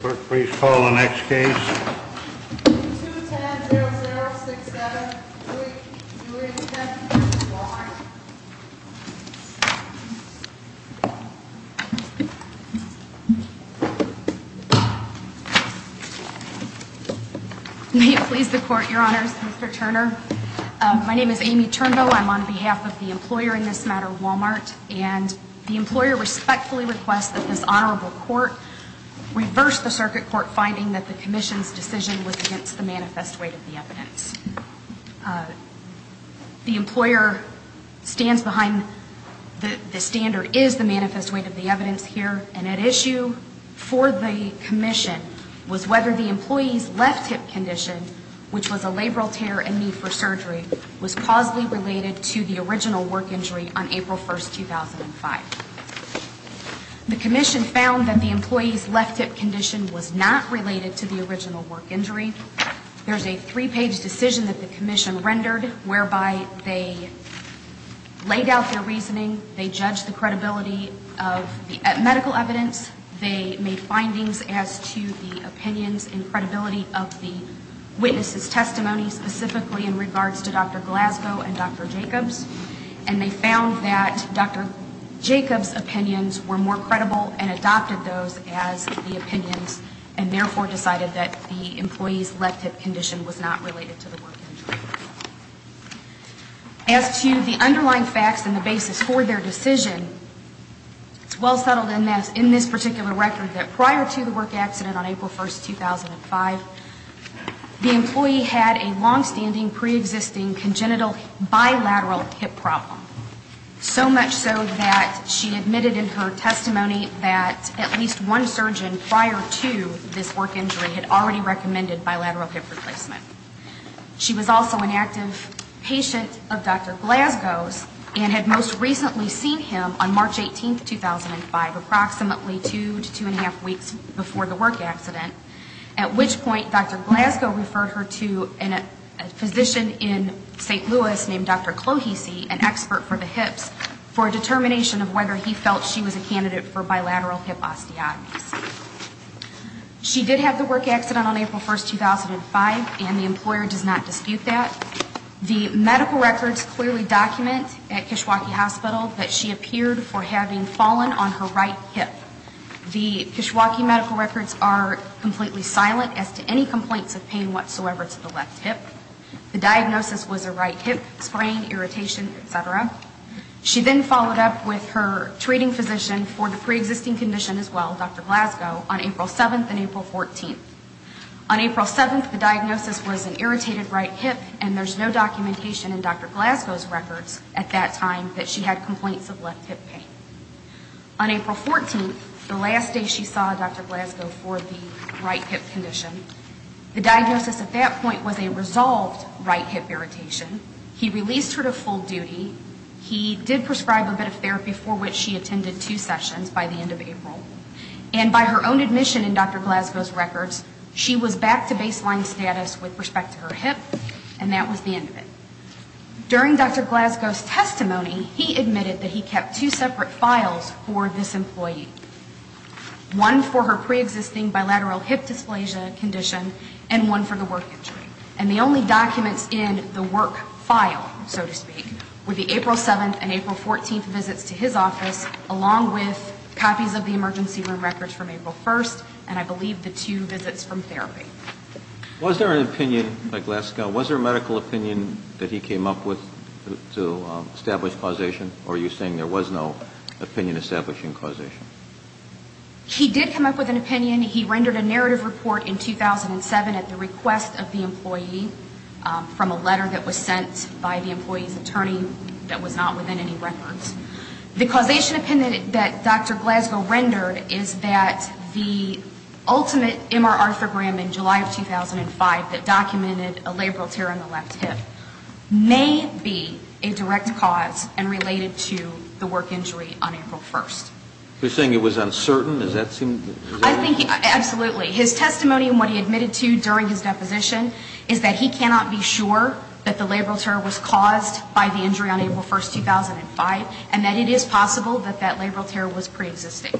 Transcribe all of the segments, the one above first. Clerk, please call the next case. 2-10-0-0-6-7-3-2-8-10-Walmart May it please the Court, Your Honors, Mr. Turner. My name is Amy Turnbull. I'm on behalf of the employer in this matter, Walmart. And the employer respectfully requests that this honorable court reverse the circuit court finding that the commission's decision was against the manifest weight of the evidence. The employer stands behind the standard is the manifest weight of the evidence here. And at issue for the commission was whether the employee's left hip condition, which was a labral tear and need for surgery, was causally related to the original work injury on April 1, 2005. The commission found that the employee's left hip condition was not related to the original work injury. There's a three-page decision that the commission rendered whereby they laid out their reasoning. They judged the credibility of the medical evidence. They made findings as to the opinions and credibility of the witnesses' testimony specifically in regards to Dr. Glasgow and Dr. Jacobs. And they found that Dr. Jacobs' opinions were more credible and adopted those as the opinions and therefore decided that the employee's left hip condition was not related to the work injury. As to the underlying facts and the basis for their decision, it's well settled in this particular record that prior to the work accident on April 1, 2005, the employee had a longstanding, preexisting congenital bilateral hip problem. So much so that she admitted in her testimony that at least one surgeon prior to this work injury had already recommended bilateral hip replacement. She was also an active patient of Dr. Glasgow's and had most recently seen him on March 18, 2005, approximately two to two and a half weeks before the work accident, at which point Dr. Glasgow referred her to a physician in St. Louis named Dr. Clohese, an expert for the hips, for a determination of whether he felt she was a candidate for bilateral hip osteotomy. She did have the work accident on April 1, 2005, and the employer does not dispute that. The medical records clearly document at Kishwaukee Hospital that she appeared for having fallen on her right hip. The Kishwaukee medical records are completely silent as to any complaints of pain whatsoever to the left hip. The diagnosis was a right hip sprain, irritation, et cetera. She then followed up with her treating physician for the preexisting condition as well, Dr. Glasgow, on April 7 and April 14. On April 7, the diagnosis was an irritated right hip, and there's no documentation in Dr. Glasgow's records at that time that she had complaints of left hip pain. On April 14, the last day she saw Dr. Glasgow for the right hip condition, the diagnosis at that point was a resolved right hip irritation. He released her to full duty. He did prescribe a bit of therapy for which she attended two sessions by the end of April. And by her own admission in Dr. Glasgow's records, she was back to baseline status with respect to her hip, and that was the end of it. During Dr. Glasgow's testimony, he admitted that he kept two separate files for this employee, one for her preexisting bilateral hip dysplasia condition, and one for the work injury. And the only documents in the work file, so to speak, were the April 7 and April 14 visits to his office, along with copies of the emergency room records from April 1, and I believe the two visits from therapy. Was there an opinion by Glasgow, was there a medical opinion that he came up with to establish causation, or are you saying there was no opinion establishing causation? He did come up with an opinion. He rendered a narrative report in 2007 at the request of the employee from a letter that was sent by the employee's attorney that was not within any records. The causation opinion that Dr. Glasgow rendered is that the ultimate MR arthrogram in July of that year was the right hip. And that the right hip was the cause of the work injury on April 1. You're saying it was uncertain? Does that seem... Absolutely. His testimony and what he admitted to during his deposition is that he cannot be sure that the labral tear was caused by the injury on April 1, 2005, and that it is possible that that labral tear was preexisting.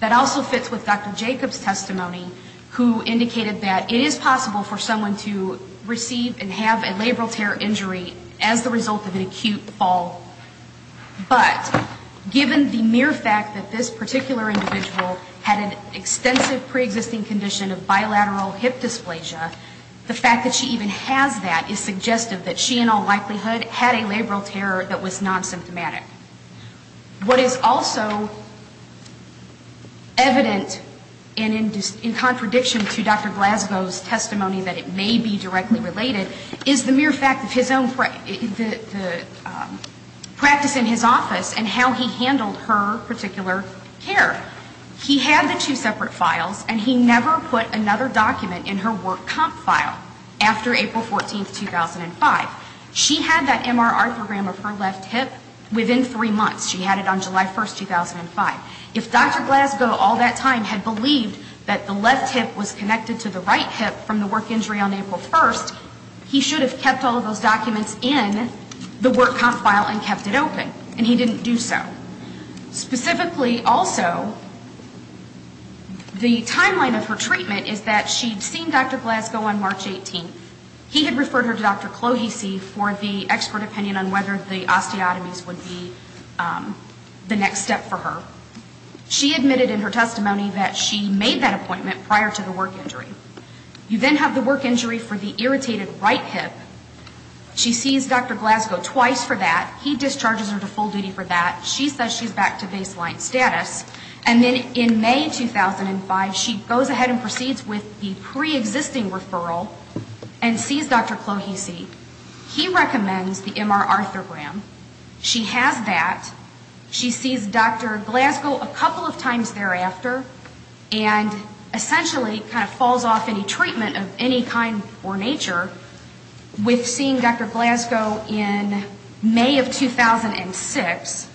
That also fits with Dr. Jacobs' testimony, who indicated that it is possible for someone to receive and have a labral tear injury as the result of an acute fall, but given the mere fact that this particular individual had an extensive preexisting condition of bilateral hip dysplasia, the fact that she even has that is suggestive that she in all likelihood had a labral tear that was non-symptomatic. What is also evident, and in contradiction to Dr. Glasgow's testimony that it may be directly related, is the mere fact of his own practice in his office and how he handled her particular care. He had the two separate files, and he never put another document in her work comp file after April 14, 2005. She had that MR arthrogram of her left hip within that document. Within three months, she had it on July 1, 2005. If Dr. Glasgow all that time had believed that the left hip was connected to the right hip from the work injury on April 1, he should have kept all of those documents in the work comp file and kept it open. And he didn't do so. Specifically, also, the timeline of her treatment is that she'd seen Dr. Glasgow on March 18. He had referred her to Dr. Clohessy for the expert opinion on whether the osteotomies would be treated. The next step for her. She admitted in her testimony that she made that appointment prior to the work injury. You then have the work injury for the irritated right hip. She sees Dr. Glasgow twice for that. He discharges her to full duty for that. She says she's back to baseline status. And then in May 2005, she goes ahead and proceeds with the preexisting referral and sees Dr. Clohessy. He recommends the MR arthrogram. She has that. She sees Dr. Glasgow a couple of times thereafter and essentially kind of falls off any treatment of any kind or nature with seeing Dr. Glasgow in May of 2006.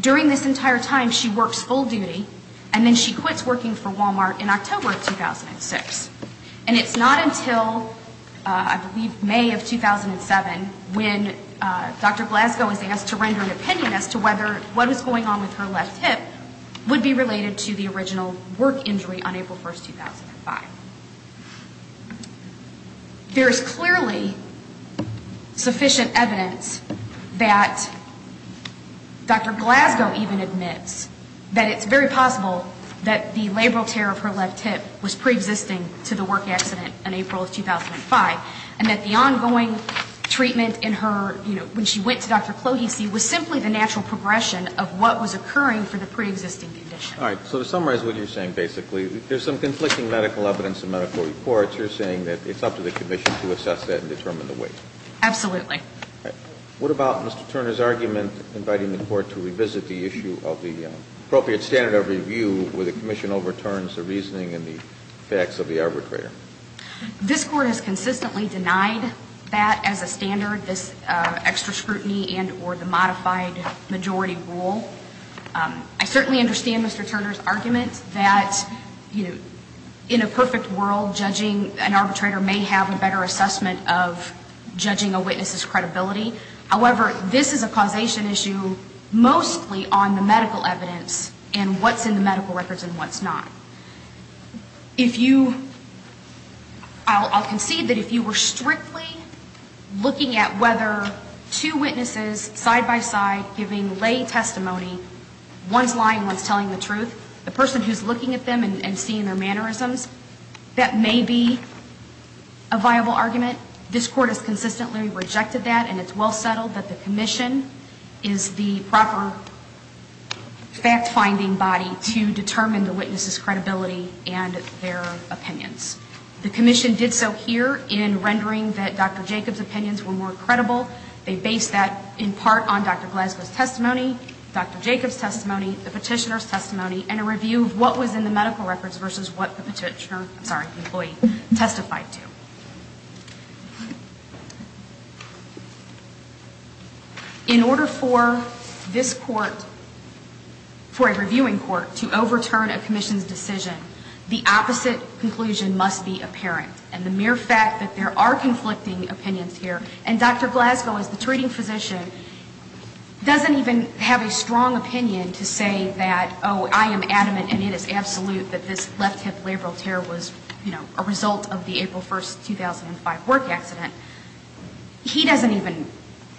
During this entire time, she works full duty and then she quits working for Walmart in October of 2006. And it's not until I believe May of 2007 when Dr. Glasgow is asked to render an opinion as to whether what was going on with her left hip would be related to the original work injury on April 1, 2005. There is clearly sufficient evidence that Dr. Glasgow even admits that it's very possible that the labral tear of her left hip was preexisting prior to the work injury. And that the ongoing treatment in her, you know, when she went to Dr. Clohessy was simply the natural progression of what was occurring for the preexisting condition. All right. So to summarize what you're saying basically, there's some conflicting medical evidence in medical reports. You're saying that it's up to the commission to assess that and determine the weight. Absolutely. What about Mr. Turner's argument inviting the court to revisit the issue of the appropriate standard of review where the commission overturns the reasoning and the facts of the arbitrator? This court has consistently denied that as a standard, this extra scrutiny and or the modified majority rule. I certainly understand Mr. Turner's argument that, you know, in a perfect world, judging an arbitrator may have a better assessment of judging a witness as correct. I certainly understand his credibility. However, this is a causation issue mostly on the medical evidence and what's in the medical records and what's not. If you, I'll concede that if you were strictly looking at whether two witnesses side-by-side giving lay testimony, one's lying, one's telling the truth, the person who's looking at them and seeing their mannerisms, that may be a viable argument. I certainly understand that and it's well settled that the commission is the proper fact-finding body to determine the witness's credibility and their opinions. The commission did so here in rendering that Dr. Jacobs' opinions were more credible. They based that in part on Dr. Glasgow's testimony, Dr. Jacobs' testimony, the petitioner's testimony, and a review of what was in the medical records versus what the petitioner, I'm sorry, the employee testified to. In order for this court, for a reviewing court to overturn a commission's decision, the opposite conclusion must be apparent. And the mere fact that there are conflicting opinions here, and Dr. Glasgow as the treating physician doesn't even have a strong opinion to say that, oh, I am adamant and it is absolute that this left hip labral tear was, you know, a result of the April 1st, 2005 work accident. He doesn't even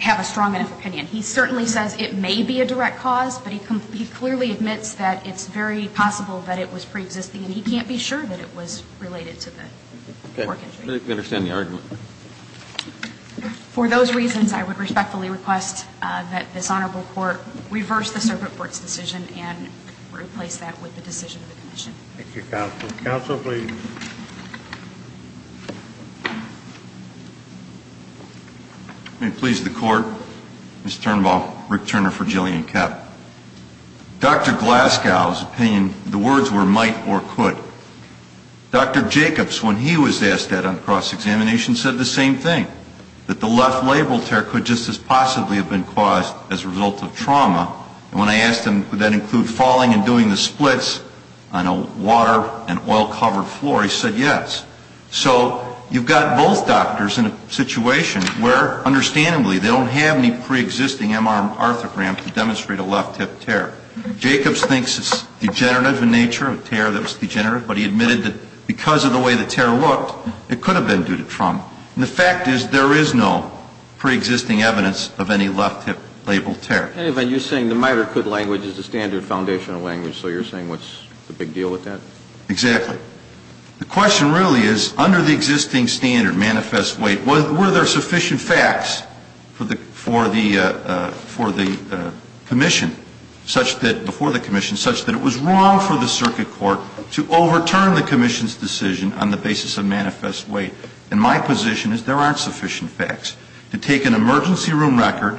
have a strong enough opinion. He certainly says it may be a direct cause, but he clearly admits that it's very possible that it was preexisting and he can't be sure that it was related to the work accident. For those reasons, I would respectfully request that this honorable court reverse the circuit court's decision and replace that with the decision of the commission. Thank you, counsel. Counsel, please. May it please the court, Mr. Turnbull, Rick Turner for Jillian Koepp. Dr. Glasgow's opinion, the words were might or could. Dr. Jacobs, when he was asked that on cross-examination, said the same thing, that the left labral tear could just as possibly have been caused as a result of trauma. And when I asked him, would that include falling and doing the splits on a water and oil-covered floor, he said yes. So you've got both doctors in a situation where, understandably, they don't have any preexisting MRM arthrogram to demonstrate a left hip tear. Jacobs thinks it's degenerative in nature, a tear that was degenerative, but he admitted that because of the way the tear looked, it could have been due to trauma. And the fact is there is no preexisting evidence of any left hip labral tear. And you're saying the might or could language is the standard foundational language. So you're saying what's the big deal with that? Exactly. The question really is, under the existing standard, manifest weight, were there sufficient facts for the commission, before the commission, such that it was wrong for the circuit court to overturn the commission's decision on the basis of manifest weight? And my position is there aren't sufficient facts. To take an emergency room record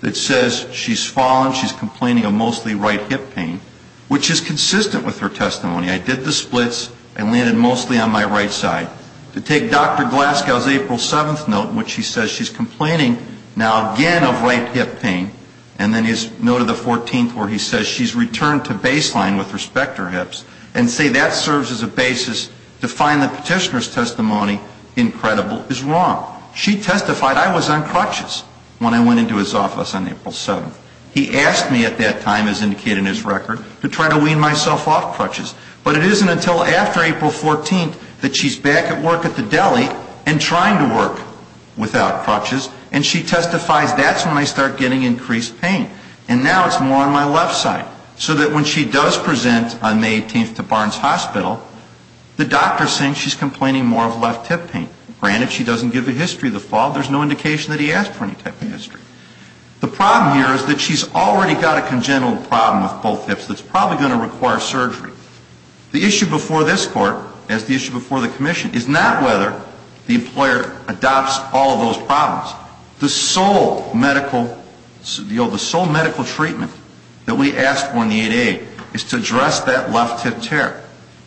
that says she's fallen, she's complaining of mostly right hip pain, which is consistent with her testimony, I did the splits, I landed mostly on my right side. To take Dr. Glasgow's April 7th note in which he says she's complaining now again of right hip pain, and then his note of the 14th where he says she's returned to baseline with respect to her hips, and say that serves as a basis to find the petitioner's testimony incredible is wrong. She testified I was on crutches when I went into his office on April 7th. He asked me at that time, as indicated in his record, to try to wean myself off crutches. But it isn't until after April 14th that she's back at work at the deli and trying to work without crutches, and she testifies that's when I start getting increased pain. And now it's more on my left side. So that when she does present on May 18th to Barnes Hospital, the doctor's saying she's complaining more of left hip pain. Granted, she doesn't give a history of the fall. There's no indication that he asked for any type of history. The problem here is that she's already got a congenital problem with both hips that's probably going to require surgery. The issue before this court, as the issue before the commission, is not whether the employer adopts all of those problems. The sole medical treatment that we ask for in the 8A is to address that left hip tear.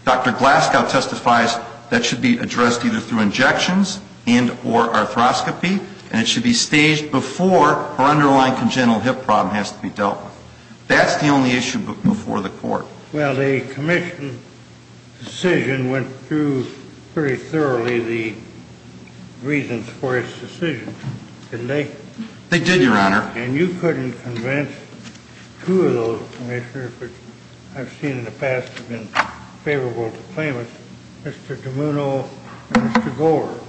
Dr. Glasgow testifies that should be addressed either through injections and or arthroscopy, and it should be staged before her underlying congenital hip problem has to be dealt with. That's the only issue before the court. Well, the commission's decision went through pretty thoroughly the reasons for its decision, didn't they? They did, Your Honor. And you couldn't convince two of those commissioners, which I've seen in the past have been favorable to claimants, Mr. DiMuno and Mr. Gorer?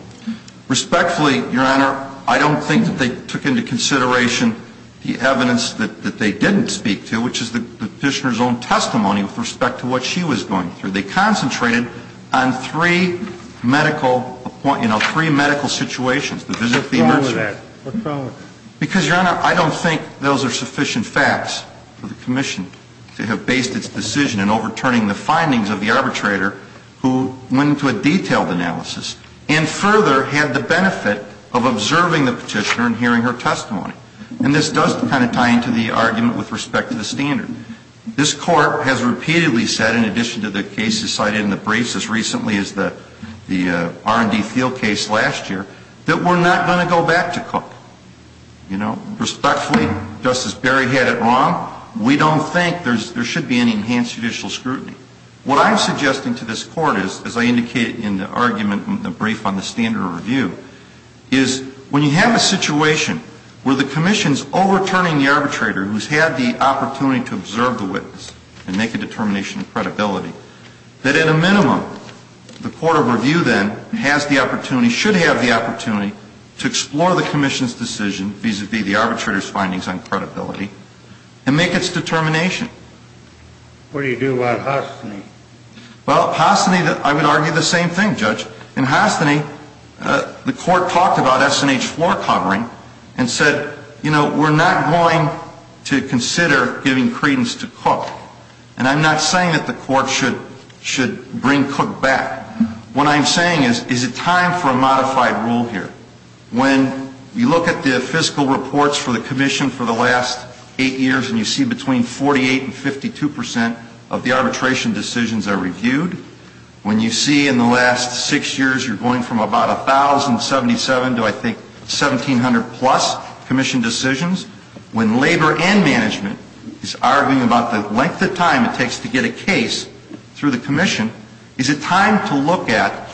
Respectfully, Your Honor, I don't think that they took into consideration the evidence that they didn't speak to. Which is the Petitioner's own testimony with respect to what she was going through. They concentrated on three medical, you know, three medical situations, the visit to the emergency room. What's wrong with that? Because, Your Honor, I don't think those are sufficient facts for the commission to have based its decision in overturning the findings of the arbitrator who went into a detailed analysis and further had the benefit of observing the Petitioner and hearing her testimony. And this does kind of tie into the argument with respect to the standard. This Court has repeatedly said, in addition to the cases cited in the briefs as recently as the R&D Thiel case last year, that we're not going to go back to Cook. Respectfully, Justice Berry had it wrong. We don't think there should be any enhanced judicial scrutiny. What I'm suggesting to this Court is, as I indicated in the argument in the brief on the standard of review, is when you have a situation where the commission's overturning the arbitrator who's had the opportunity to observe the witness and make a determination of credibility, that at a minimum, the Court of Review then has the opportunity, should have the opportunity, to explore the commission's decision vis-à-vis the arbitrator's findings on credibility and make its determination. What do you do about Hostany? Well, Hostany, I would argue the same thing, Judge. In Hostany, the Court talked about S&H floor covering and said, you know, we're not going to consider giving credence to Cook. And I'm not saying that the Court should bring Cook back. What I'm saying is, is it time for a modified rule here? When you look at the fiscal reports for the commission for the last eight years, and you see between 48 and 52 percent of the arbitration decisions are reviewed, when you see in the last six years you're going from about 1,077 to, I think, 1,700-plus commission decisions, when labor and management is arguing about the length of time it takes to get a case through the commission, is it time to look at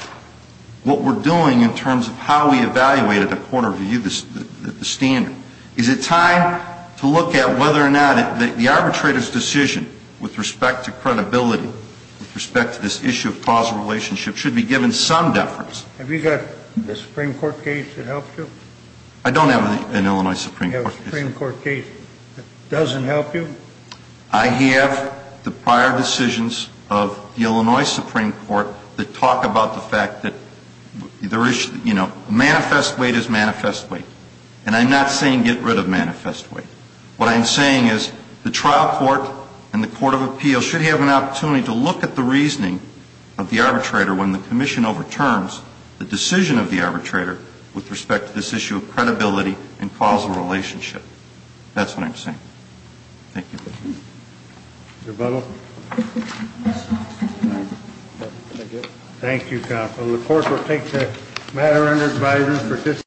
what we're doing in terms of how we evaluate at the Court of Review the standard? Is it time to look at whether or not the arbitrator's decision with respect to credibility, with respect to this issue of causal relationship, should be given some deference? Have you got the Supreme Court case that helps you? Do you have a Supreme Court case that doesn't help you? I have the prior decisions of the Illinois Supreme Court that talk about the fact that there is, you know, manifest weight is manifest weight. And I'm not saying get rid of manifest weight. What I'm saying is the trial court and the Court of Appeals should have an opportunity to look at the reasoning of the arbitrator and the relationship. That's what I'm saying. Thank you.